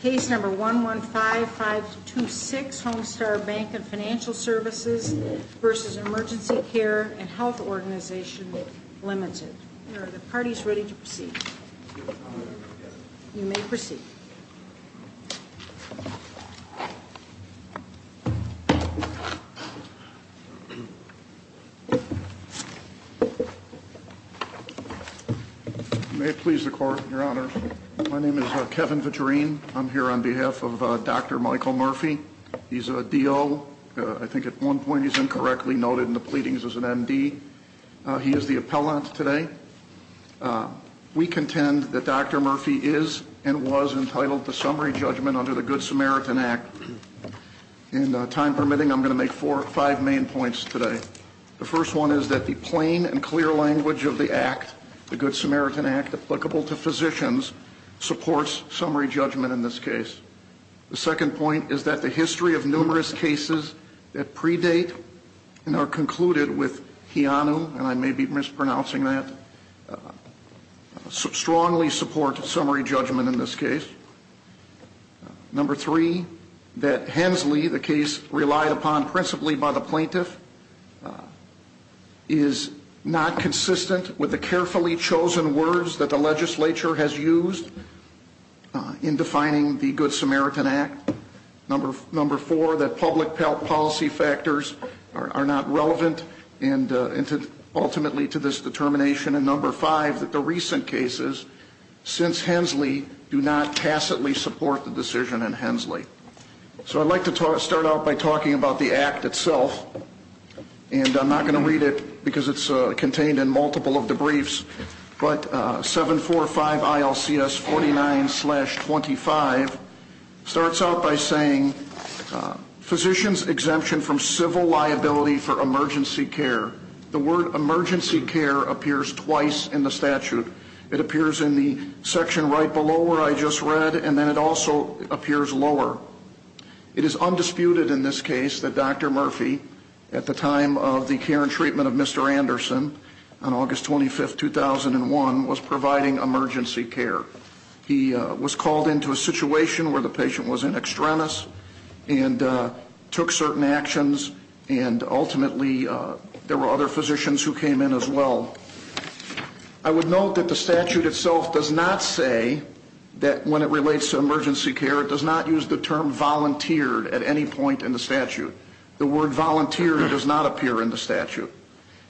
Case number 115-526, Home Star Bank & Financial Services v. Emergency Care & Health Organization, Ltd. Are the parties ready to proceed? You may proceed. May it please the Court, Your Honor. My name is Kevin Vitrine. I'm here on behalf of Dr. Michael Murphy. He's a DO. I think at one point he was incorrectly noted in the pleadings as an MD. He is the appellant today. We contend that Dr. Murphy is and was entitled to summary judgment under the Good Samaritan Act. And time permitting, I'm going to make four or five main points today. The first one is that the plain and clear language of the act, the Good Samaritan Act, applicable to physicians supports summary judgment in this case. The second point is that the history of numerous cases that predate and are concluded with HEANU, and I may be mispronouncing that, strongly support summary judgment in this case. Number three, that HENSLEY, the case relied upon principally by the plaintiff, is not consistent with the carefully chosen words that the legislature has used in defining the Good Samaritan Act. Number four, that public policy factors are not relevant ultimately to this determination. And number five, that the recent cases, since HENSLEY, do not tacitly support the decision in HENSLEY. So I'd like to start out by talking about the act itself. And I'm not going to read it because it's contained in multiple of the briefs. But 745 ILCS 49-25 starts out by saying, Physicians exemption from civil liability for emergency care. The word emergency care appears twice in the statute. It appears in the section right below where I just read, and then it also appears lower. It is undisputed in this case that Dr. Murphy, at the time of the care and treatment of Mr. Anderson, on August 25th, 2001, was providing emergency care. He was called into a situation where the patient was in extremis and took certain actions, and ultimately there were other physicians who came in as well. I would note that the statute itself does not say that when it relates to emergency care, it does not use the term volunteered at any point in the statute. The word volunteer does not appear in the statute.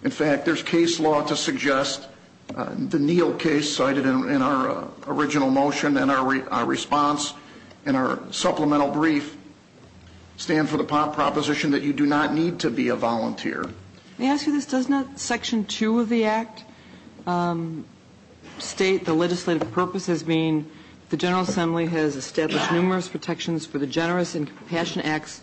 In fact, there's case law to suggest the Neal case cited in our original motion, and our response in our supplemental brief stand for the proposition that you do not need to be a volunteer. Let me ask you this. Doesn't section 2 of the Act state the legislative purpose as being the General Assembly has established numerous protections for the generous and compassionate acts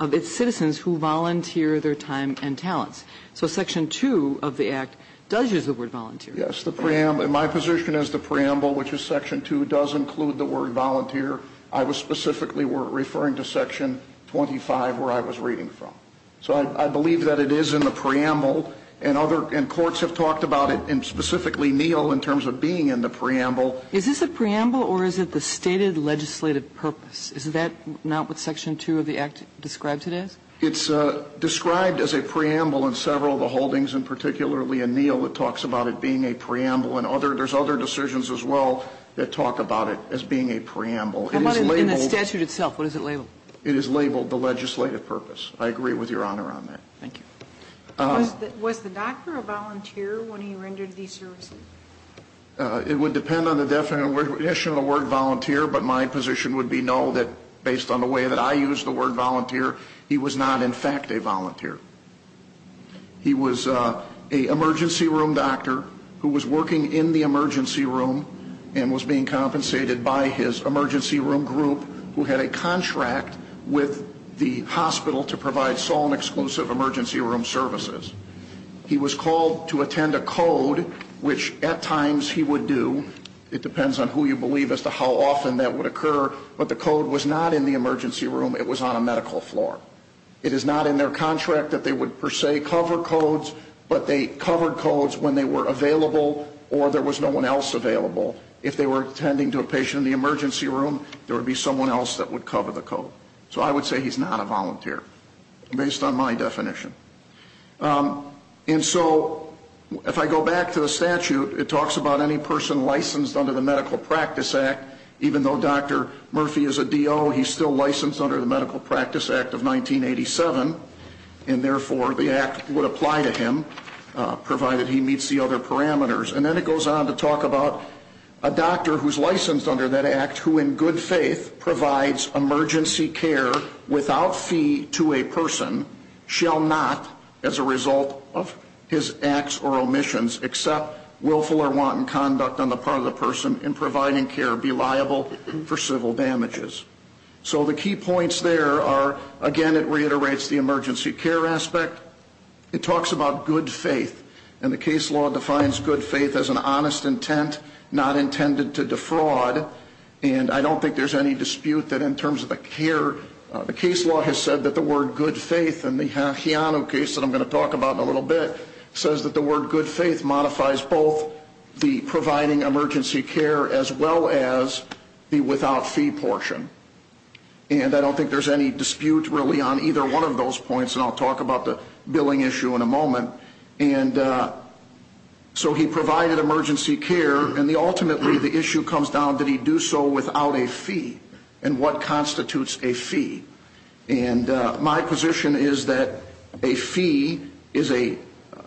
of its citizens who volunteer their time and talents? So section 2 of the Act does use the word volunteer. Yes. The preamble. My position is the preamble, which is section 2, does include the word volunteer. I was specifically referring to section 25, where I was reading from. So I believe that it is in the preamble, and courts have talked about it, and specifically Neal, in terms of being in the preamble. Is this a preamble, or is it the stated legislative purpose? Is that not what section 2 of the Act describes it as? It's described as a preamble in several of the holdings, and particularly in Neal it talks about it being a preamble. There's other decisions as well that talk about it as being a preamble. How about in the statute itself? What is it labeled? It is labeled the legislative purpose. I agree with Your Honor on that. Thank you. Was the doctor a volunteer when he rendered these services? It would depend on the definition of the word volunteer, but my position would be no, that based on the way that I use the word volunteer, he was not in fact a volunteer. He was an emergency room doctor who was working in the emergency room and was being compensated by his emergency room group, who had a contract with the hospital to provide Solon-exclusive emergency room services. He was called to attend a code, which at times he would do. It depends on who you believe as to how often that would occur, but the code was not in the emergency room. It was on a medical floor. It is not in their contract that they would per se cover codes, but they covered codes when they were available or there was no one else available. If they were attending to a patient in the emergency room, there would be someone else that would cover the code. So I would say he's not a volunteer based on my definition. And so if I go back to the statute, it talks about any person licensed under the Medical Practice Act. Even though Dr. Murphy is a DO, he's still licensed under the Medical Practice Act of 1987, and therefore the act would apply to him provided he meets the other parameters. And then it goes on to talk about a doctor who's licensed under that act, who in good faith provides emergency care without fee to a person, shall not, as a result of his acts or omissions, accept willful or wanton conduct on the part of the person in providing care be liable for civil damages. So the key points there are, again, it reiterates the emergency care aspect. It talks about good faith. And the case law defines good faith as an honest intent not intended to defraud. And I don't think there's any dispute that in terms of the care, the case law has said that the word good faith in the Heano case that I'm going to talk about in a little bit, says that the word good faith modifies both the providing emergency care as well as the without fee portion. And I don't think there's any dispute really on either one of those points, and I'll talk about the billing issue in a moment. And so he provided emergency care, and ultimately the issue comes down, did he do so without a fee? And what constitutes a fee? And my position is that a fee is a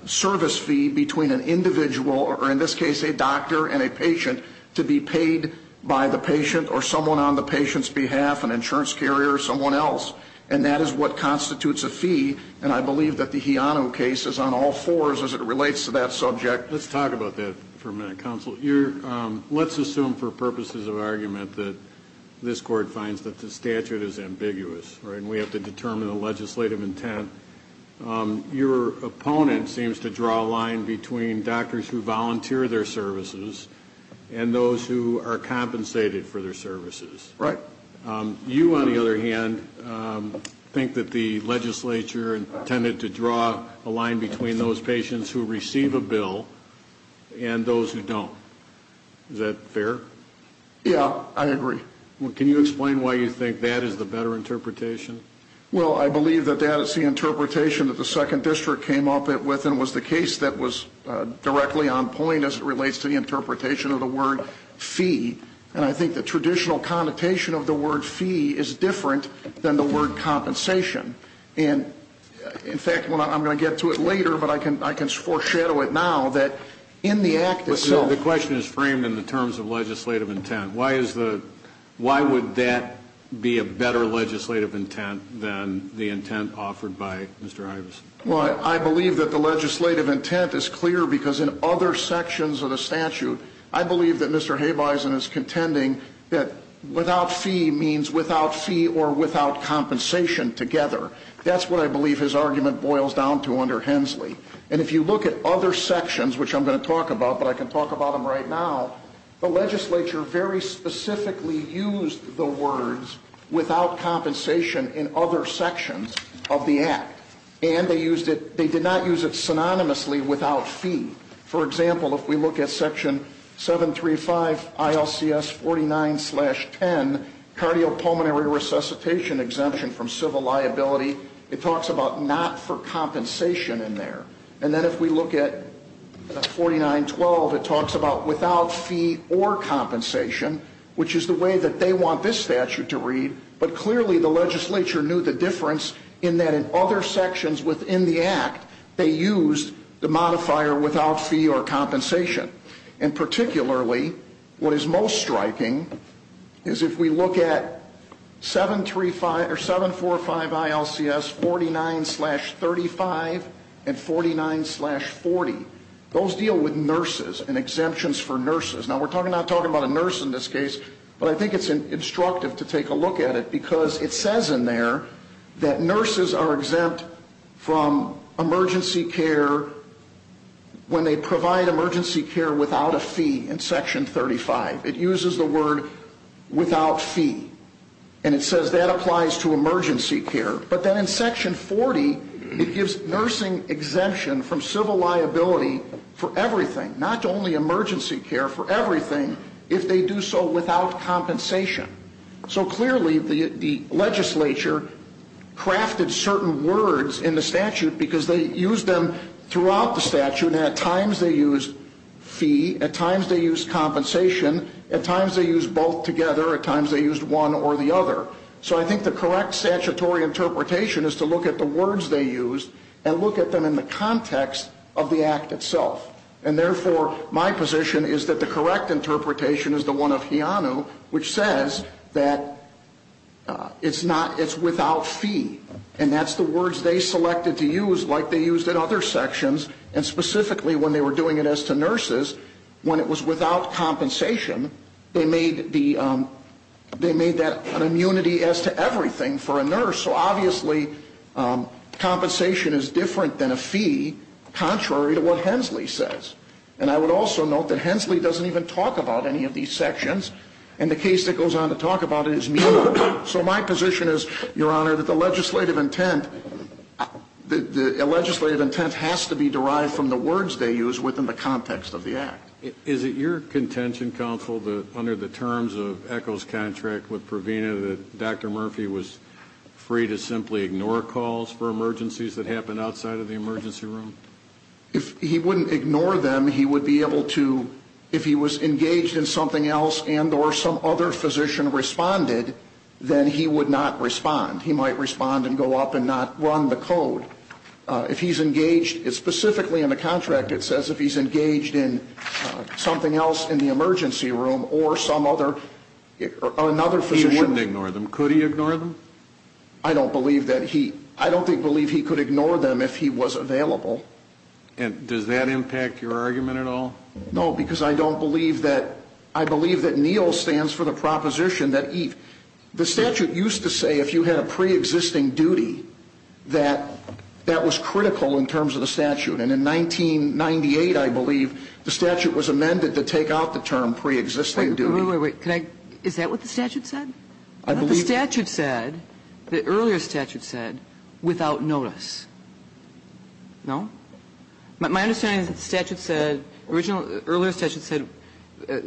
service fee between an individual, or in this case a doctor and a patient, to be paid by the patient or someone on the patient's behalf, an insurance carrier or someone else. And that is what constitutes a fee. And I believe that the Heano case is on all fours as it relates to that subject. Let's talk about that for a minute, counsel. Let's assume for purposes of argument that this court finds that the statute is ambiguous, right, and we have to determine the legislative intent. Your opponent seems to draw a line between doctors who volunteer their services and those who are compensated for their services. Right. You, on the other hand, think that the legislature intended to draw a line between those patients who receive a bill and those who don't. Is that fair? Yeah, I agree. Can you explain why you think that is the better interpretation? Well, I believe that that is the interpretation that the Second District came up with and was the case that was directly on point as it relates to the interpretation of the word fee. And I think the traditional connotation of the word fee is different than the word compensation. And, in fact, I'm going to get to it later, but I can foreshadow it now that in the act itself. The question is framed in the terms of legislative intent. Why would that be a better legislative intent than the intent offered by Mr. Ives? Well, I believe that the legislative intent is clear because in other sections of the statute, I believe that Mr. Habeisen is contending that without fee means without fee or without compensation together. That's what I believe his argument boils down to under Hensley. And if you look at other sections, which I'm going to talk about, but I can talk about them right now, the legislature very specifically used the words without compensation in other sections of the act. And they did not use it synonymously without fee. For example, if we look at Section 735 ILCS 49-10, cardiopulmonary resuscitation exemption from civil liability, it talks about not for compensation in there. And then if we look at 49-12, it talks about without fee or compensation, which is the way that they want this statute to read. But clearly the legislature knew the difference in that in other sections within the act, they used the modifier without fee or compensation. And particularly what is most striking is if we look at 745 ILCS 49-35 and 49-40. Those deal with nurses and exemptions for nurses. Now, we're not talking about a nurse in this case, but I think it's instructive to take a look at it because it says in there that nurses are exempt from emergency care when they provide emergency care without a fee in Section 35. It uses the word without fee. And it says that applies to emergency care. But then in Section 40, it gives nursing exemption from civil liability for everything, not only emergency care, for everything if they do so without compensation. So clearly the legislature crafted certain words in the statute because they used them throughout the statute, and at times they used fee, at times they used compensation, at times they used both together, at times they used one or the other. So I think the correct statutory interpretation is to look at the words they used and look at them in the context of the act itself. And therefore, my position is that the correct interpretation is the one of Heanu, which says that it's without fee. And that's the words they selected to use like they used in other sections, and specifically when they were doing it as to nurses, when it was without compensation, they made that an immunity as to everything for a nurse. So obviously compensation is different than a fee, contrary to what Hensley says. And I would also note that Hensley doesn't even talk about any of these sections, and the case that goes on to talk about it is meaningful. So my position is, Your Honor, that the legislative intent has to be derived from the words they use within the context of the act. Is it your contention, counsel, that under the terms of ECHO's contract with Provena, that Dr. Murphy was free to simply ignore calls for emergencies that happened outside of the emergency room? If he wouldn't ignore them, he would be able to, if he was engaged in something else and or some other physician responded, then he would not respond. He might respond and go up and not run the code. If he's engaged, specifically in the contract, it says if he's engaged in something else in the emergency room or some other, or another physician. He wouldn't ignore them. Could he ignore them? I don't believe that he, I don't believe he could ignore them if he was available. And does that impact your argument at all? No, because I don't believe that, I believe that NEEL stands for the proposition that, the statute used to say if you had a preexisting duty that that was critical in terms of the statute, and in 1998, I believe, the statute was amended to take out the term preexisting duty. Wait, wait, wait. Is that what the statute said? I believe that. The statute said, the earlier statute said, without notice. No? My understanding is that the statute said, the earlier statute said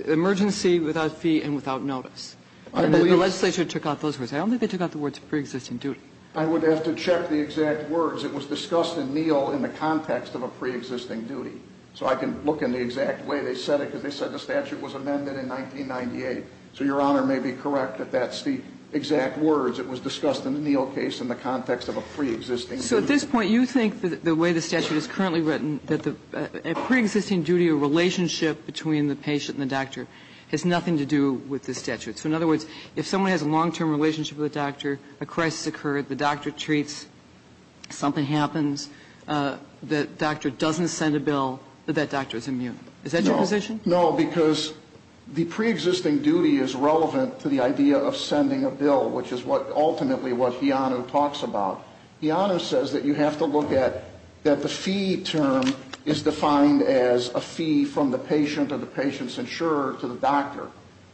emergency without fee and without notice. The legislature took out those words. I don't think they took out the words preexisting duty. I would have to check the exact words. It was discussed in NEEL in the context of a preexisting duty. So I can look in the exact way they said it, because they said the statute was amended in 1998. So Your Honor may be correct that that's the exact words. It was discussed in the NEEL case in the context of a preexisting duty. So at this point, you think that the way the statute is currently written, that the preexisting duty or relationship between the patient and the doctor has nothing to do with the statute. So in other words, if someone has a long-term relationship with a doctor, a crisis occurred, the doctor treats, something happens, the doctor doesn't send a bill, but that doctor is immune. Is that your position? No, because the preexisting duty is relevant to the idea of sending a bill, which is what ultimately what Heano talks about. Heano says that you have to look at that the fee term is defined as a fee from the state,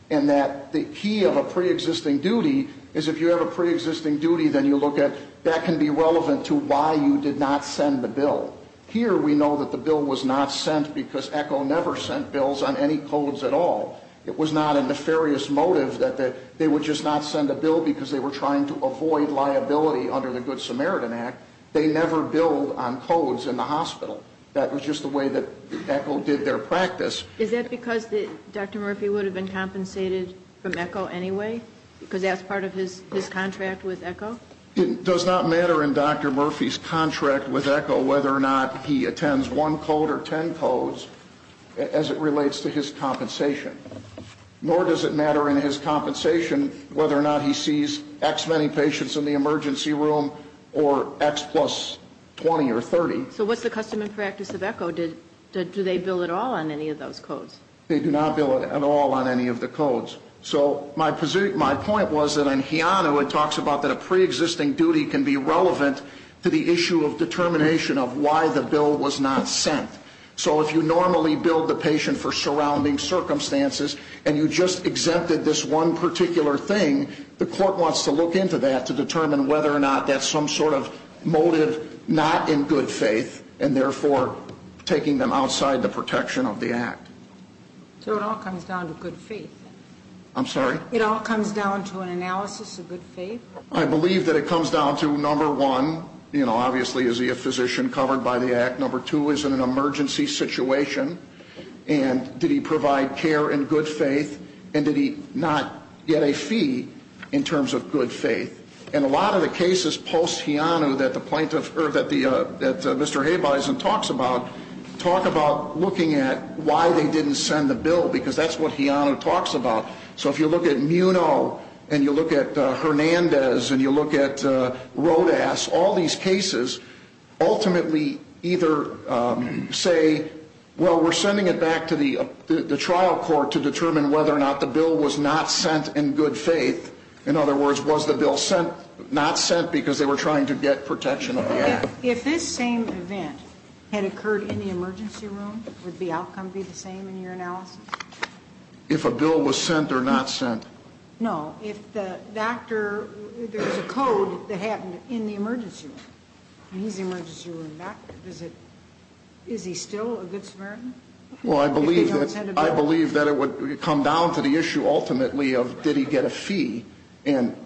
and that the key of a preexisting duty is if you have a preexisting duty, then you look at that can be relevant to why you did not send the bill. Here we know that the bill was not sent because ECHO never sent bills on any codes at all. It was not a nefarious motive that they would just not send a bill because they were trying to avoid liability under the Good Samaritan Act. They never billed on codes in the hospital. That was just the way that ECHO did their practice. Is that because Dr. Murphy would have been compensated from ECHO anyway? Because that's part of his contract with ECHO? It does not matter in Dr. Murphy's contract with ECHO whether or not he attends one code or ten codes as it relates to his compensation, nor does it matter in his compensation whether or not he sees X many patients in the emergency room or X plus 20 or 30. So what's the custom and practice of ECHO? Do they bill at all on any of those codes? They do not bill at all on any of the codes. So my point was that in Heano it talks about that a preexisting duty can be relevant to the issue of determination of why the bill was not sent. So if you normally billed the patient for surrounding circumstances and you just exempted this one particular thing, the court wants to look into that to determine whether or not that's some sort of motive not in good faith and therefore taking them outside the protection of the Act. So it all comes down to good faith? I'm sorry? It all comes down to an analysis of good faith? I believe that it comes down to, number one, you know, obviously is he a physician covered by the Act? Number two, is it an emergency situation? And did he provide care in good faith? And did he not get a fee in terms of good faith? And a lot of the cases post-Heano that the plaintiff or that Mr. Habeisen talks about talk about looking at why they didn't send the bill because that's what Heano talks about. So if you look at Muno and you look at Hernandez and you look at Rodas, all these cases ultimately either say, well, we're sending it back to the trial court to determine whether or not the bill was not sent in good faith. In other words, was the bill not sent because they were trying to get protection of the Act? If this same event had occurred in the emergency room, would the outcome be the same in your analysis? If a bill was sent or not sent? No. If the doctor, there's a code that happened in the emergency room. He's the emergency room doctor. Is he still a good Samaritan? And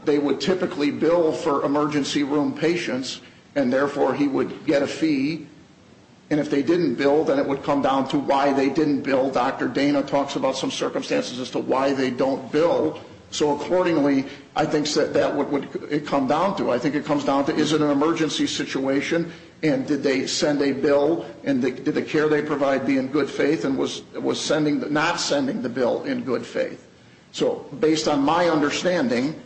they would typically bill for emergency room patients, and therefore he would get a fee. And if they didn't bill, then it would come down to why they didn't bill. Dr. Dana talks about some circumstances as to why they don't bill. So accordingly, I think that's what it would come down to. I think it comes down to is it an emergency situation and did they send a bill and did the care they provide be in good faith and was not sending the bill in good faith? So based on my understanding,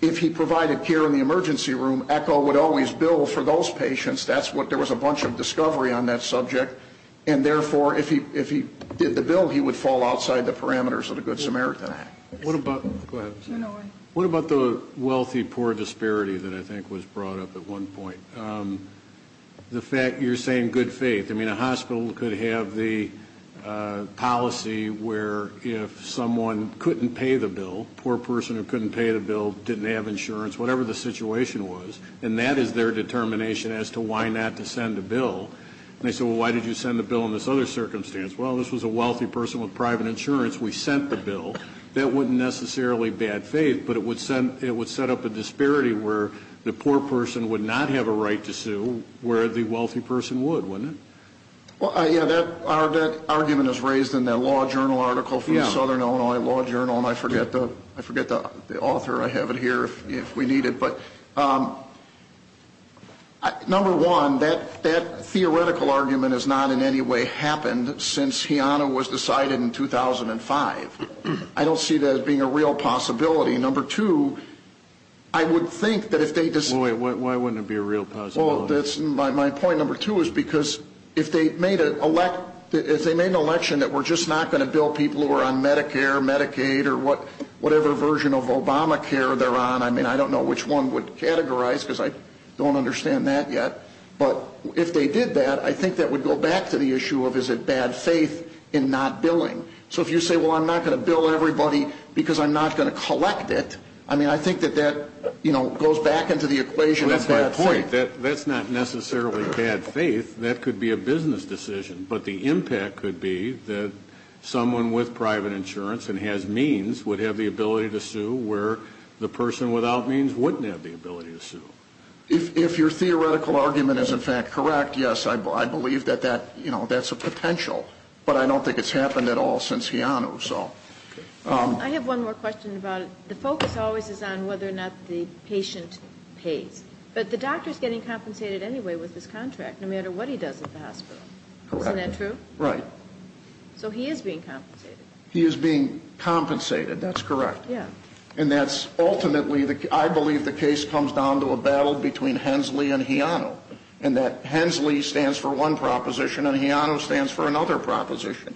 if he provided care in the emergency room, ECHO would always bill for those patients. There was a bunch of discovery on that subject, and therefore if he did the bill, he would fall outside the parameters of the Good Samaritan Act. What about the wealthy-poor disparity that I think was brought up at one point? You're saying good faith. I mean, a hospital could have the policy where if someone couldn't pay the bill, poor person who couldn't pay the bill, didn't have insurance, whatever the situation was, and that is their determination as to why not to send a bill. And they say, well, why did you send the bill in this other circumstance? Well, this was a wealthy person with private insurance. We sent the bill. That wasn't necessarily bad faith, but it would set up a disparity where the poor person would not have a right to sue where the wealthy person would, wouldn't it? Well, yeah, that argument is raised in that Law Journal article from the Southern Illinois Law Journal, and I forget the author. I have it here if we need it. But, number one, that theoretical argument has not in any way happened since Heano was decided in 2005. I don't see that as being a real possibility. Number two, I would think that if they just ---- Why wouldn't it be a real possibility? Well, my point, number two, is because if they made an election that we're just not going to bill people who are on Medicare, Medicaid, or whatever version of Obamacare they're on, I mean, I don't know which one would categorize because I don't understand that yet, but if they did that, I think that would go back to the issue of is it bad faith in not billing. So if you say, well, I'm not going to bill everybody because I'm not going to collect it, I mean, I think that that goes back into the equation of bad faith. My point, that's not necessarily bad faith. That could be a business decision, but the impact could be that someone with private insurance and has means would have the ability to sue where the person without means wouldn't have the ability to sue. If your theoretical argument is, in fact, correct, yes, I believe that that's a potential, but I don't think it's happened at all since Heano, so. I have one more question about it. The focus always is on whether or not the patient pays, but the doctor is getting compensated anyway with his contract no matter what he does at the hospital. Correct. Isn't that true? Right. So he is being compensated. He is being compensated. That's correct. Yeah. And that's ultimately, I believe the case comes down to a battle between Hensley and Heano, in that Hensley stands for one proposition and Heano stands for another proposition.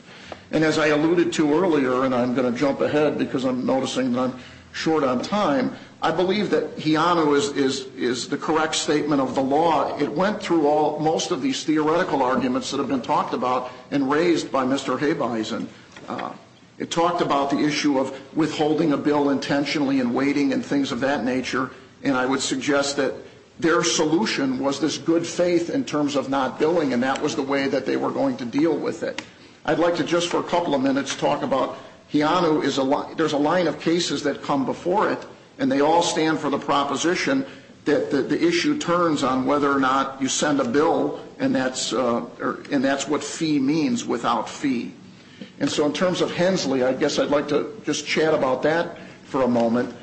And as I alluded to earlier, and I'm going to jump ahead because I'm noticing that I'm short on time, I believe that Heano is the correct statement of the law. It went through most of these theoretical arguments that have been talked about and raised by Mr. Habeisen. It talked about the issue of withholding a bill intentionally and waiting and things of that nature, and I would suggest that their solution was this good faith in terms of not billing, and that was the way that they were going to deal with it. I'd like to just for a couple of minutes talk about Heano. There's a line of cases that come before it, and they all stand for the proposition that the issue turns on whether or not you send a bill, and that's what fee means without fee. And so in terms of Hensley, I guess I'd like to just chat about that for a moment.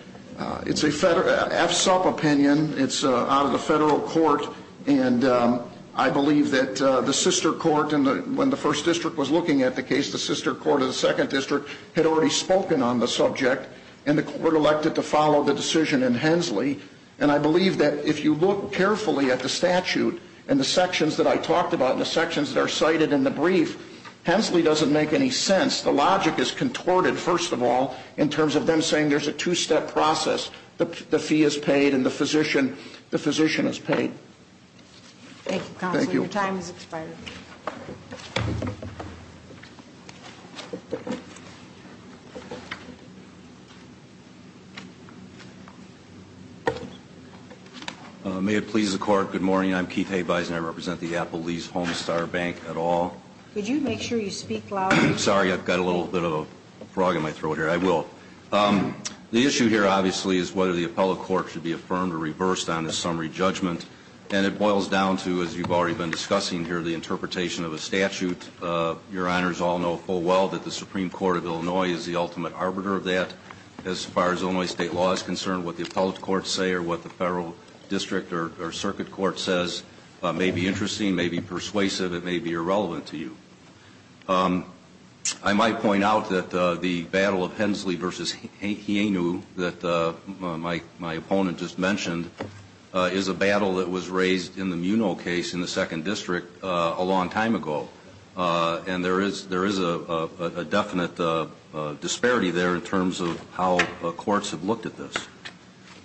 It's an FSUP opinion. It's out of the federal court, and I believe that the sister court when the first district was looking at the case, the sister court of the second district had already spoken on the subject, and the court elected to follow the decision in Hensley, and I believe that if you look carefully at the statute and the sections that I talked about and the sections that are cited in the brief, Hensley doesn't make any sense. The logic is contorted, first of all, in terms of them saying there's a two-step process. The fee is paid, and the physician is paid. Thank you, Counselor. Your time has expired. Thank you. May it please the Court, good morning. I'm Keith Habeisen. I represent the Applebee's Homestar Bank et al. Could you make sure you speak loudly? Sorry, I've got a little bit of a frog in my throat here. I will. The issue here, obviously, is whether the appellate court should be affirmed or reversed on the summary judgment, and it boils down to, as you've already been discussing here, the interpretation of a statute. Your Honors all know full well that the Supreme Court of Illinois is the ultimate arbiter of that as far as Illinois state law is concerned. What the appellate courts say or what the federal district or circuit court says may be interesting, may be persuasive, it may be irrelevant to you. I might point out that the battle of Hensley v. Hienu that my opponent just mentioned is a battle that was raised in the Muno case in the Second District a long time ago, and there is a definite disparity there in terms of how courts have looked at this.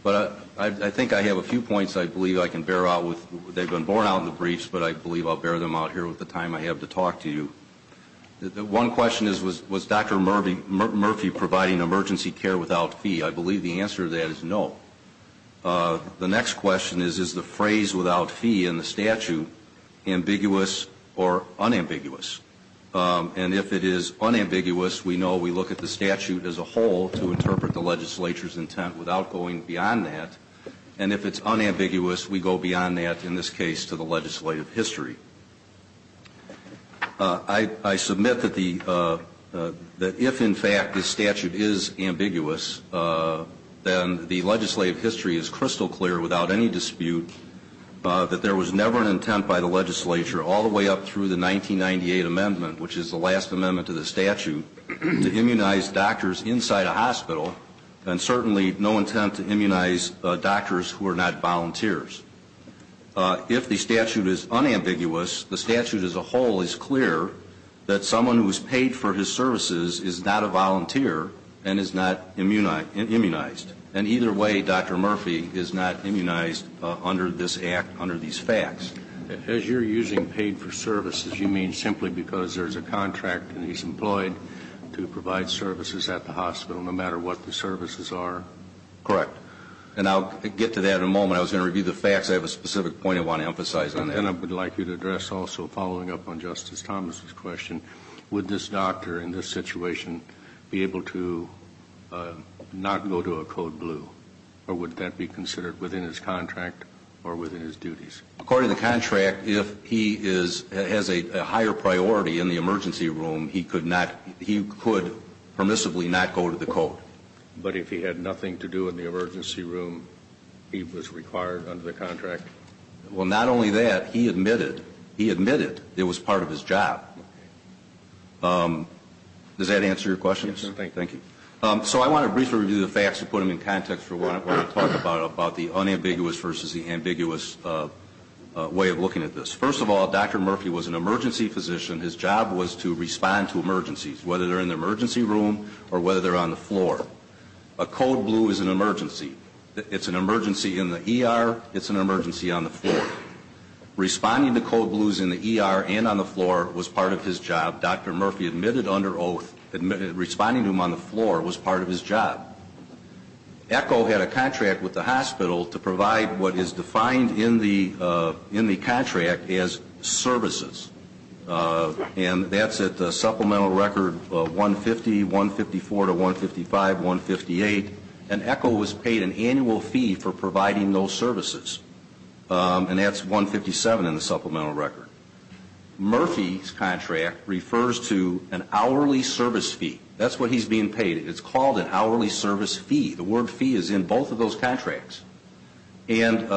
But I think I have a few points I believe I can bear out with. They've been borne out in the briefs, but I believe I'll bear them out here with the time I have to talk to you. One question is, was Dr. Murphy providing emergency care without fee? I believe the answer to that is no. The next question is, is the phrase without fee in the statute ambiguous or unambiguous? And if it is unambiguous, we know we look at the statute as a whole to interpret the legislature's intent without going beyond that. And if it's unambiguous, we go beyond that in this case to the legislative history. I submit that if, in fact, this statute is ambiguous, then the legislative history is crystal clear without any dispute that there was never an intent by the legislature all the way up through the 1998 amendment, which is the last amendment to the statute, to immunize doctors inside a hospital and certainly no intent to immunize doctors who are not volunteers. If the statute is unambiguous, the statute as a whole is clear that someone who is paid for his services is not a volunteer and is not immunized. And either way, Dr. Murphy is not immunized under this act, under these facts. As you're using paid for services, you mean simply because there's a contract and he's employed to provide services at the hospital, no matter what the services are? Correct. And I'll get to that in a moment. I was going to review the facts. I have a specific point I want to emphasize on that. And I would like you to address also, following up on Justice Thomas's question, would this doctor in this situation be able to not go to a code blue, or would that be considered within his contract or within his duties? According to the contract, if he has a higher priority in the emergency room, he could not, he could permissibly not go to the code. But if he had nothing to do in the emergency room, he was required under the contract? Well, not only that, he admitted, he admitted it was part of his job. Does that answer your question? Yes, sir. Thank you. So I want to briefly review the facts to put them in context for what I want to talk about, the unambiguous versus the ambiguous way of looking at this. First of all, Dr. Murphy was an emergency physician. His job was to respond to emergencies, whether they're in the emergency room or whether they're on the floor. A code blue is an emergency. It's an emergency in the ER. It's an emergency on the floor. Responding to code blues in the ER and on the floor was part of his job. Dr. Murphy admitted under oath, responding to them on the floor was part of his job. ECHO had a contract with the hospital to provide what is defined in the contract as services. And that's at the supplemental record 150, 154 to 155, 158. And ECHO was paid an annual fee for providing those services. And that's 157 in the supplemental record. Murphy's contract refers to an hourly service fee. That's what he's being paid. It's called an hourly service fee. The word fee is in both of those contracts. And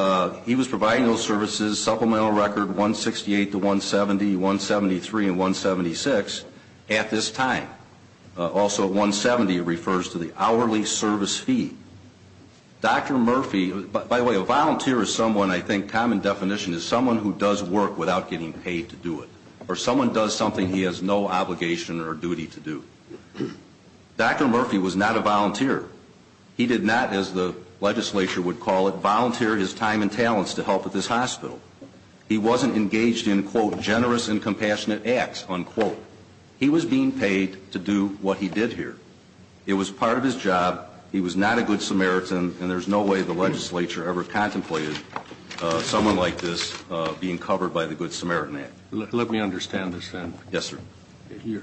he was providing those services, supplemental record 168 to 170, 173 and 176 at this time. Also, 170 refers to the hourly service fee. Dr. Murphy, by the way, a volunteer is someone, I think, common definition is someone who does work without getting paid to do it or someone does something he has no obligation or duty to do. Dr. Murphy was not a volunteer. He did not, as the legislature would call it, volunteer his time and talents to help with this hospital. He wasn't engaged in, quote, generous and compassionate acts, unquote. He was being paid to do what he did here. It was part of his job. He was not a good Samaritan. And there's no way the legislature ever contemplated someone like this being covered by the Good Samaritan Act. Let me understand this then. Yes, sir.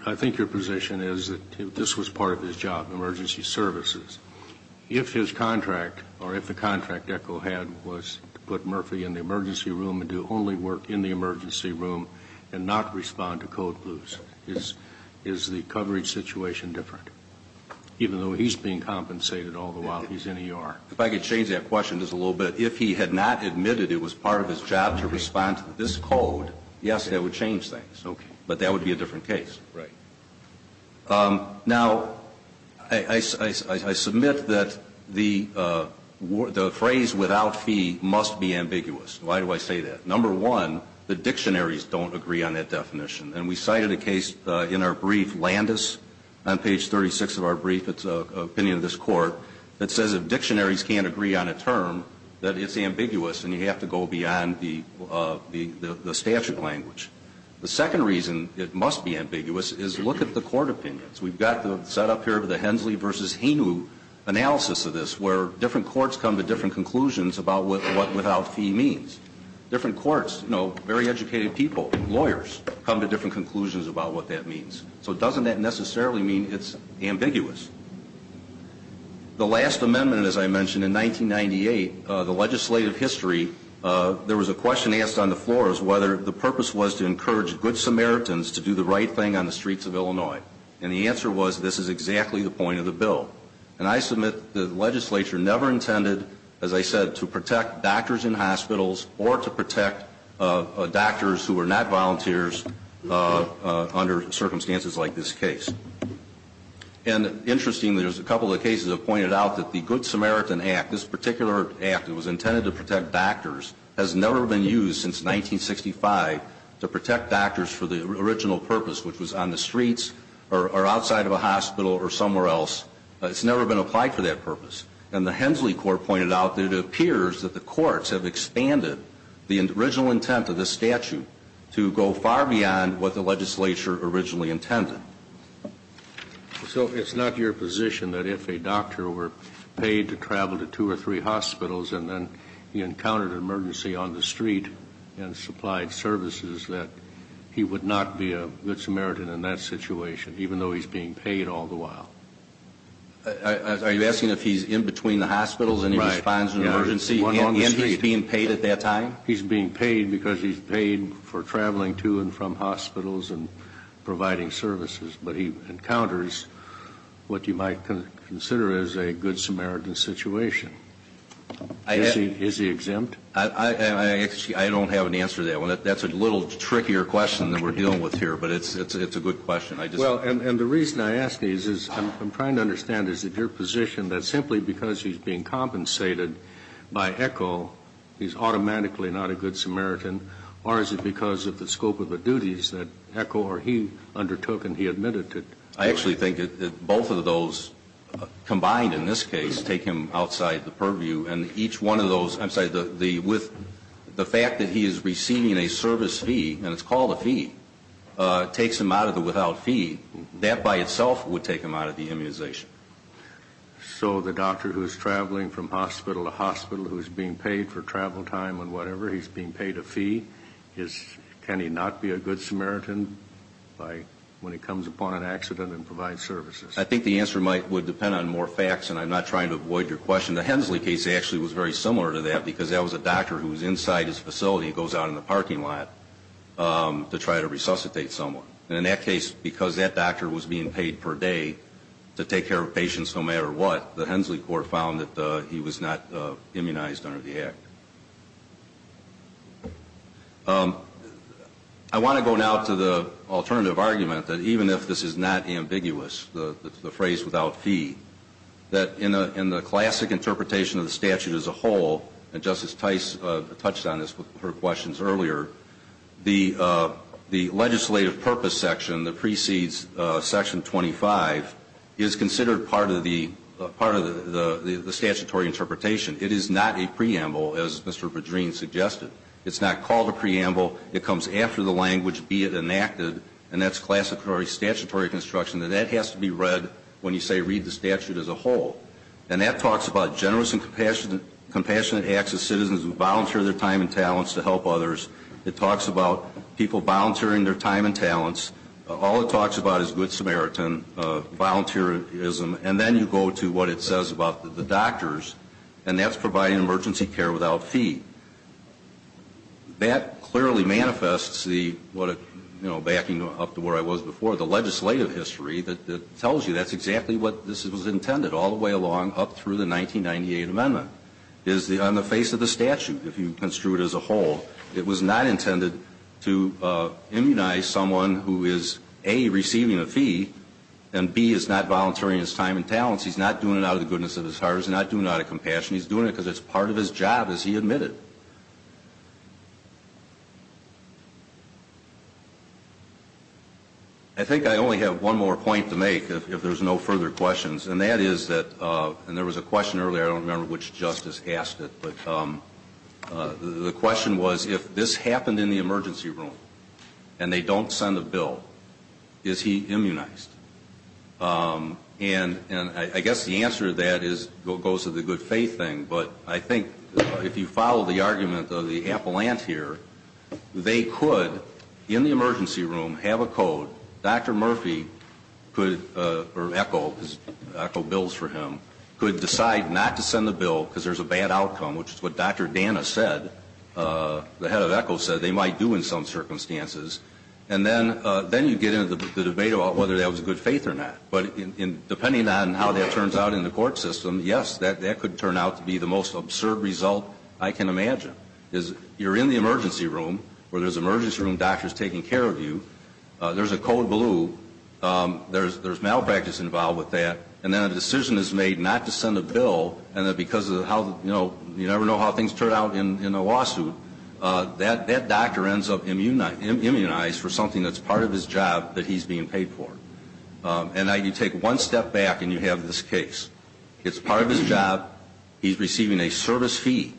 I think your position is that this was part of his job, emergency services. If his contract or if the contract ECHO had was to put Murphy in the emergency room and do only work in the emergency room and not respond to code blues, is the coverage situation different? Even though he's being compensated all the while he's in ER. If I could change that question just a little bit. If he had not admitted it was part of his job to respond to this code, yes, that would change things. Okay. But that would be a different case. Right. Now, I submit that the phrase without fee must be ambiguous. Why do I say that? Number one, the dictionaries don't agree on that definition. And we cited a case in our brief, Landis, on page 36 of our brief. It's an opinion of this court that says if dictionaries can't agree on a term, that it's ambiguous and you have to go beyond the statute language. The second reason it must be ambiguous is look at the court opinions. We've got the setup here of the Hensley v. Hainu analysis of this where different courts come to different conclusions about what without fee means. Different courts, you know, very educated people, lawyers, come to different conclusions about what that means. So doesn't that necessarily mean it's ambiguous? The last amendment, as I mentioned, in 1998, the legislative history, there was a question asked on the floor as to whether the purpose was to encourage good Samaritans to do the right thing on the streets of Illinois. And the answer was this is exactly the point of the bill. And I submit the legislature never intended, as I said, to protect doctors in hospitals or to protect doctors who are not volunteers under circumstances like this case. And interestingly, there's a couple of cases that pointed out that the Good Samaritan Act, this particular act that was intended to protect doctors, has never been used since 1965 to protect doctors for the original purpose, which was on the streets or outside of a hospital or somewhere else. It's never been applied for that purpose. And the Hensley court pointed out that it appears that the courts have expanded the original intent of this statute to go far beyond what the legislature originally intended. So it's not your position that if a doctor were paid to travel to two or three hospitals and then he encountered an emergency on the street and supplied services, that he would not be a good Samaritan in that situation, even though he's being paid all the while? Are you asking if he's in between the hospitals and he responds to an emergency and he's being paid at that time? He's being paid because he's paid for traveling to and from hospitals and providing services. But he encounters what you might consider is a good Samaritan situation. Is he exempt? I don't have an answer to that one. That's a little trickier question than we're dealing with here, but it's a good question. Well, and the reason I ask these is I'm trying to understand, is it your position that simply because he's being compensated by ECHO, he's automatically not a good Samaritan, or is it because of the scope of the duties that ECHO or he undertook and he admitted to? I actually think that both of those combined in this case take him outside the purview, and each one of those, I'm sorry, with the fact that he is receiving a service fee, and it's called a fee, takes him out of the without fee. That by itself would take him out of the immunization. So the doctor who is traveling from hospital to hospital who is being paid for travel time and whatever, he's being paid a fee. Can he not be a good Samaritan when he comes upon an accident and provides services? I think the answer would depend on more facts, and I'm not trying to avoid your question. The Hensley case actually was very similar to that because that was a doctor who was inside his facility and goes out in the parking lot to try to resuscitate someone. And in that case, because that doctor was being paid per day to take care of patients no matter what, the Hensley court found that he was not immunized under the act. I want to go now to the alternative argument that even if this is not ambiguous, the phrase without fee, that in the classic interpretation of the statute as a whole, and Justice Tice touched on this with her questions earlier, the legislative purpose section, the precedes section 25, is considered part of the statutory interpretation. It is not a preamble, as Mr. Bedreen suggested. It's not called a preamble. It comes after the language, be it enacted, and that's classified statutory construction, and that has to be read when you say read the statute as a whole. And that talks about generous and compassionate acts of citizens who volunteer their time and talents to help others. It talks about people volunteering their time and talents. All it talks about is good Samaritan volunteerism. And then you go to what it says about the doctors, and that's providing emergency care without fee. That clearly manifests the, backing up to where I was before, the legislative history that tells you that's exactly what this was intended, all the way along up through the 1998 amendment. On the face of the statute, if you construe it as a whole, it was not intended to immunize someone who is, A, receiving a fee, and B, is not volunteering his time and talents. He's not doing it out of the goodness of his heart. He's not doing it out of compassion. He's doing it because it's part of his job, as he admitted. I think I only have one more point to make, if there's no further questions, and that is that, and there was a question earlier, I don't remember which justice asked it, but the question was, if this happened in the emergency room, and they don't send a bill, is he immunized? And I guess the answer to that goes to the good faith thing, but I think if you follow the argument of the appellant here, they could, in the emergency room, have a code. Dr. Murphy could, or Echo, because Echo bills for him, could decide not to send the bill because there's a bad outcome, which is what Dr. Dana said, the head of Echo said they might do in some circumstances. And then you get into the debate about whether that was good faith or not. But depending on how that turns out in the court system, yes, that could turn out to be the most absurd result I can imagine. Because you're in the emergency room, where there's emergency room doctors taking care of you, there's a code blue, there's malpractice involved with that, and then a decision is made not to send a bill, and then because of how, you know, you never know how things turn out in a lawsuit, that doctor ends up immunized for something that's part of his job that he's being paid for. And now you take one step back and you have this case. It's part of his job, he's receiving a service fee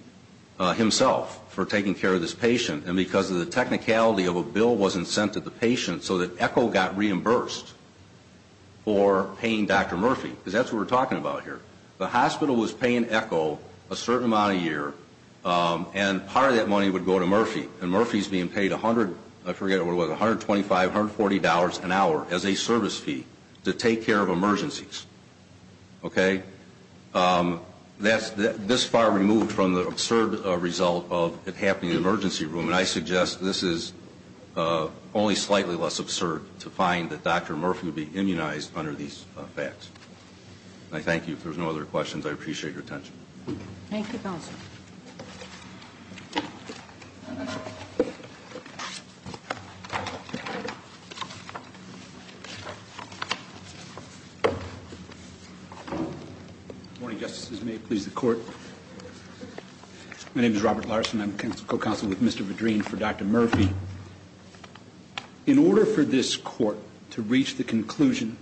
himself for taking care of this patient, and because of the technicality of a bill wasn't sent to the patient so that Echo got reimbursed for paying Dr. Murphy. Because that's what we're talking about here. The hospital was paying Echo a certain amount of year, and part of that money would go to Murphy. And Murphy's being paid $100, I forget what it was, $125, $140 an hour as a service fee to take care of emergencies. Okay? That's this far removed from the absurd result of it happening in the emergency room, and I suggest this is only slightly less absurd to find that Dr. Murphy would be immunized under these facts. I thank you. If there's no other questions, I appreciate your attention. Thank you, Counsel. Good morning, Justices. May it please the Court. My name is Robert Larson. I'm co-counsel with Mr. Verdreen for Dr. Murphy. In order for this Court to reach the conclusion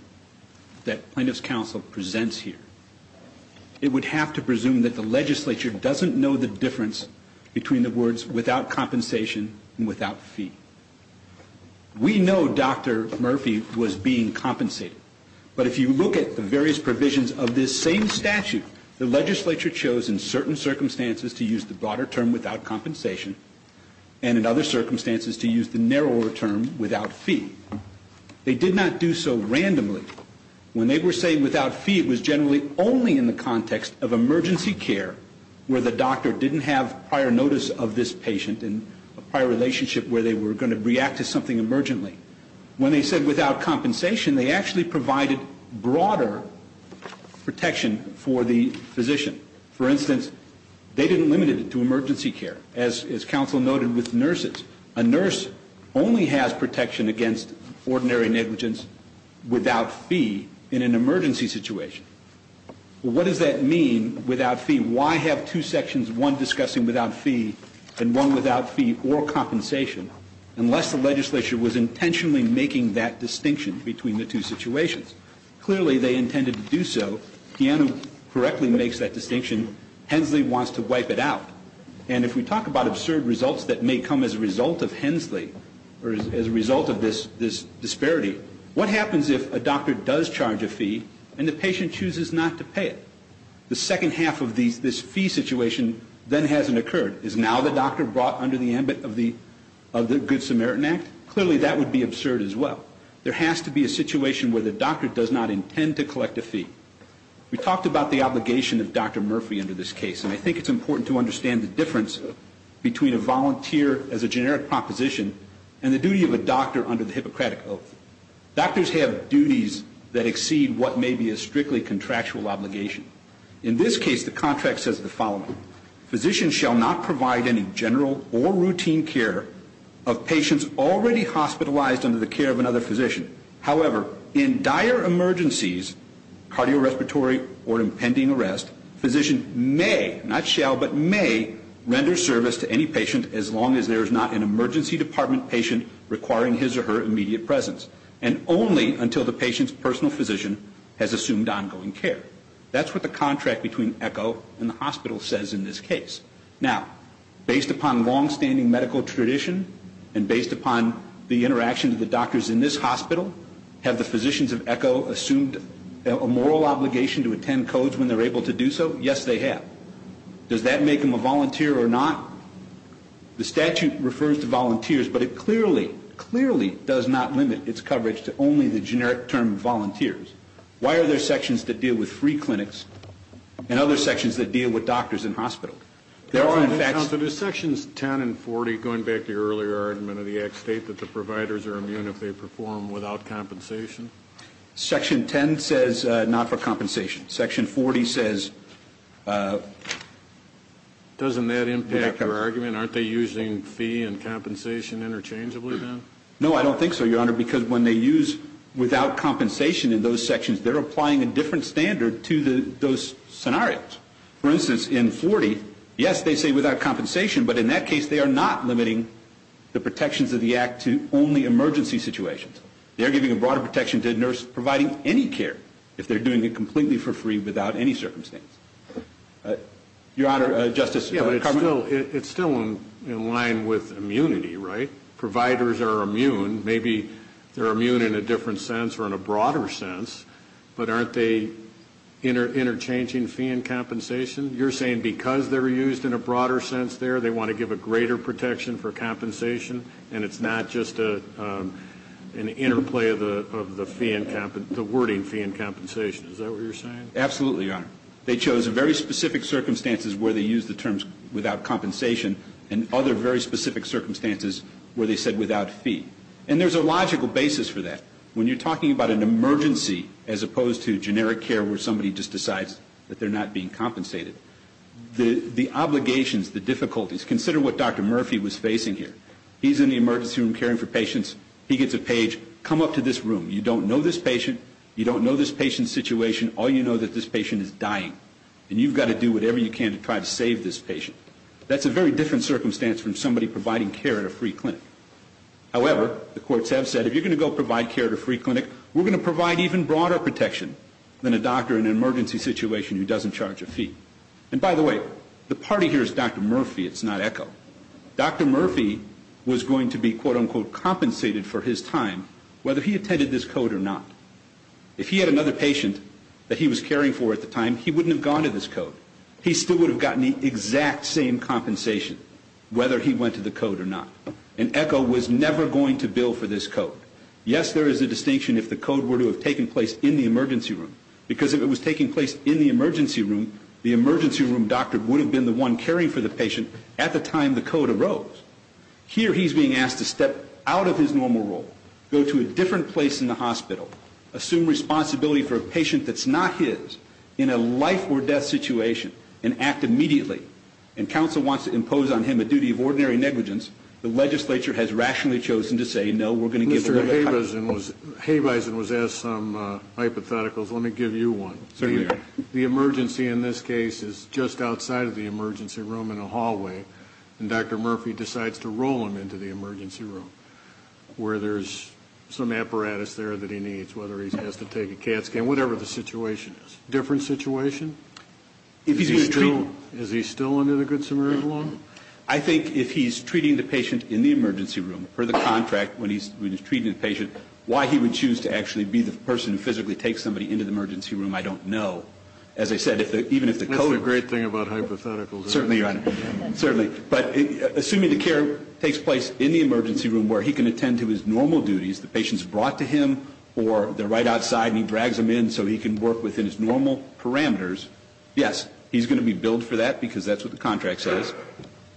that Plaintiff's Counsel presents here, it would have to presume that the legislature doesn't know the difference between the words without compensation and without fee. We know Dr. Murphy was being compensated, but if you look at the various provisions of this same statute, the legislature chose in certain circumstances to use the broader term without compensation, and in other circumstances to use the narrower term without fee. They did not do so randomly. When they were saying without fee, it was generally only in the context of emergency care, where the doctor didn't have prior notice of this patient and a prior relationship where they were going to react to something emergently. When they said without compensation, they actually provided broader protection for the physician. For instance, they didn't limit it to emergency care. As counsel noted with nurses, a nurse only has protection against ordinary negligence without fee in an emergency situation. What does that mean, without fee? Why have two sections, one discussing without fee and one without fee or compensation, unless the legislature was intentionally making that distinction between the two situations? Clearly, they intended to do so. Deanna correctly makes that distinction. Hensley wants to wipe it out. And if we talk about absurd results that may come as a result of Hensley or as a result of this disparity, what happens if a doctor does charge a fee and the patient chooses not to pay it? The second half of this fee situation then hasn't occurred. Is now the doctor brought under the ambit of the Good Samaritan Act? Clearly, that would be absurd as well. There has to be a situation where the doctor does not intend to collect a fee. We talked about the obligation of Dr. Murphy under this case, and I think it's important to understand the difference between a volunteer as a generic proposition and the duty of a doctor under the Hippocratic Oath. Doctors have duties that exceed what may be a strictly contractual obligation. In this case, the contract says the following. Physicians shall not provide any general or routine care of patients already hospitalized under the care of another physician. However, in dire emergencies, cardiorespiratory or impending arrest, physician may, not shall, but may render service to any patient as long as there is not an emergency department patient requiring his or her immediate presence and only until the patient's personal physician has assumed ongoing care. That's what the contract between ECHO and the hospital says in this case. Now, based upon longstanding medical tradition and based upon the interaction of the doctors in this hospital, have the physicians of ECHO assumed a moral obligation to attend codes when they're able to do so? Yes, they have. Does that make them a volunteer or not? The statute refers to volunteers, but it clearly, clearly does not limit its coverage to only the generic term volunteers. Why are there sections that deal with free clinics and other sections that deal with doctors in hospital? There are, in fact... Counsel, do Sections 10 and 40, going back to your earlier argument of the Act, state that the providers are immune if they perform without compensation? Section 10 says not for compensation. Section 40 says... Doesn't that impact your argument? Aren't they using fee and compensation interchangeably then? No, I don't think so, Your Honor, because when they use without compensation in those sections, they're applying a different standard to those scenarios. For instance, in 40, yes, they say without compensation, but in that case they are not limiting the protections of the Act to only emergency situations. They're giving a broader protection to a nurse providing any care if they're doing it completely for free without any circumstance. Your Honor, Justice Carman? Yeah, but it's still in line with immunity, right? If providers are immune, maybe they're immune in a different sense or in a broader sense, but aren't they interchanging fee and compensation? You're saying because they're used in a broader sense there, they want to give a greater protection for compensation, and it's not just an interplay of the wording fee and compensation. Is that what you're saying? Absolutely, Your Honor. They chose very specific circumstances where they used the terms without compensation and other very specific circumstances where they said without fee. And there's a logical basis for that. When you're talking about an emergency as opposed to generic care where somebody just decides that they're not being compensated, the obligations, the difficulties, consider what Dr. Murphy was facing here. He's in the emergency room caring for patients. He gets a page, come up to this room. You don't know this patient. You don't know this patient's situation. All you know that this patient is dying, and you've got to do whatever you can to try to save this patient. That's a very different circumstance from somebody providing care at a free clinic. However, the courts have said if you're going to go provide care at a free clinic, we're going to provide even broader protection than a doctor in an emergency situation who doesn't charge a fee. And by the way, the party here is Dr. Murphy. It's not ECHO. Dr. Murphy was going to be, quote, unquote, compensated for his time whether he attended this code or not. If he had another patient that he was caring for at the time, he wouldn't have gone to this code. He still would have gotten the exact same compensation whether he went to the code or not. And ECHO was never going to bill for this code. Yes, there is a distinction if the code were to have taken place in the emergency room because if it was taking place in the emergency room, the emergency room doctor would have been the one caring for the patient at the time the code arose. Here he's being asked to step out of his normal role, go to a different place in the hospital, assume responsibility for a patient that's not his in a life-or-death situation, and act immediately. And counsel wants to impose on him a duty of ordinary negligence. The legislature has rationally chosen to say, no, we're going to give a little time. Mr. Habeisen was asked some hypotheticals. Let me give you one. The emergency in this case is just outside of the emergency room in a hallway, and Dr. Murphy decides to roll him into the emergency room where there's some apparatus there that he needs, whether he has to take a CAT scan, whatever the situation is. Different situation? Is he still under the Good Samaritan law? I think if he's treating the patient in the emergency room, per the contract when he's treating the patient, why he would choose to actually be the person who physically takes somebody into the emergency room, I don't know. That's the great thing about hypotheticals. Certainly, Your Honor. Certainly. But assuming the care takes place in the emergency room where he can attend to his normal duties, the patient's brought to him or they're right outside and he drags them in so he can work within his normal parameters, yes, he's going to be billed for that because that's what the contract says,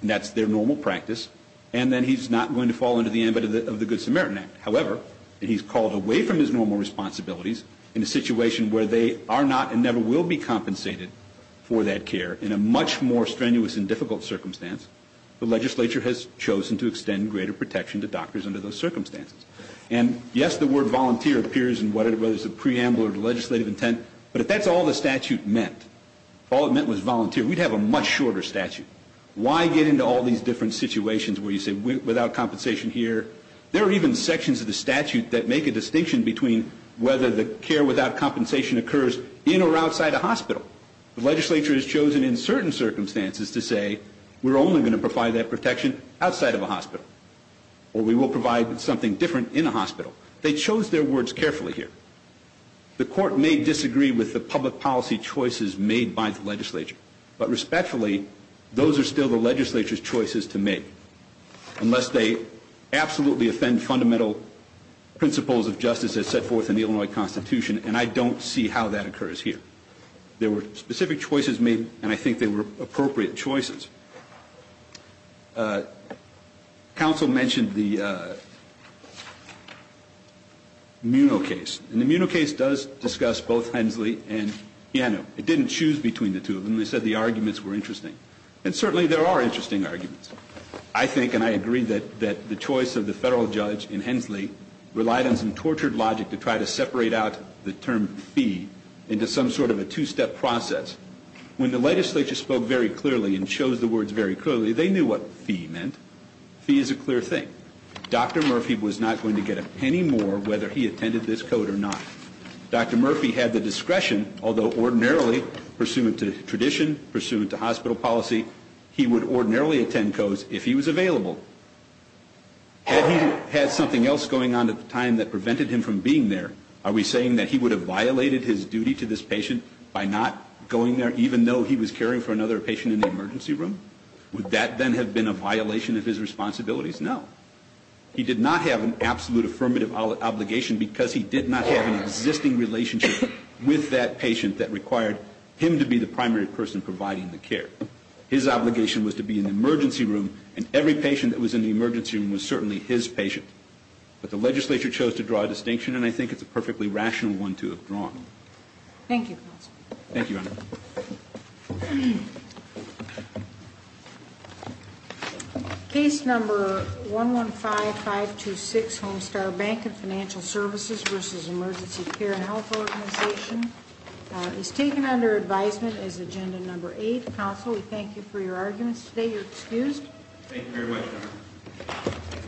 and that's their normal practice, and then he's not going to fall under the ambit of the Good Samaritan Act. However, he's called away from his normal responsibilities in a situation where they are not and never will be compensated for that care in a much more strenuous and difficult circumstance, the legislature has chosen to extend greater protection to doctors under those circumstances. And, yes, the word volunteer appears in whether it's a preamble or legislative intent, but if that's all the statute meant, all it meant was volunteer, we'd have a much shorter statute. Why get into all these different situations where you say without compensation here? There are even sections of the statute that make a distinction between whether the care without compensation occurs in or outside a hospital. The legislature has chosen in certain circumstances to say we're only going to provide that protection outside of a hospital or we will provide something different in a hospital. They chose their words carefully here. The court may disagree with the public policy choices made by the legislature, but respectfully, those are still the legislature's choices to make unless they absolutely offend fundamental principles of justice as set forth in the Illinois Constitution, and I don't see how that occurs here. There were specific choices made, and I think they were appropriate choices. Counsel mentioned the Muno case, and the Muno case does discuss both Hensley and Piano. It didn't choose between the two of them. They said the arguments were interesting, and certainly there are interesting arguments. I think, and I agree, that the choice of the Federal judge in Hensley relied on some tortured logic to try to separate out the term fee into some sort of a two-step process. When the legislature spoke very clearly and chose the words very clearly, they knew what fee meant. Fee is a clear thing. Dr. Murphy was not going to get a penny more whether he attended this code or not. Dr. Murphy had the discretion, although ordinarily, pursuant to tradition, pursuant to hospital policy, he would ordinarily attend codes if he was available. Had he had something else going on at the time that prevented him from being there, are we saying that he would have violated his duty to this patient by not going there, even though he was caring for another patient in the emergency room? Would that then have been a violation of his responsibilities? No. He did not have an absolute affirmative obligation because he did not have an existing relationship with that patient that required him to be the primary person providing the care. His obligation was to be in the emergency room, and every patient that was in the emergency room was certainly his patient. But the legislature chose to draw a distinction, and I think it's a perfectly rational one to have drawn. Thank you, counsel. Thank you, Honor. Case number 115-526, Homestar Bank and Financial Services v. Emergency Care and Health Organization, is taken under advisement as agenda number eight. Counsel, we thank you for your arguments today. You're excused. Thank you very much, Honor.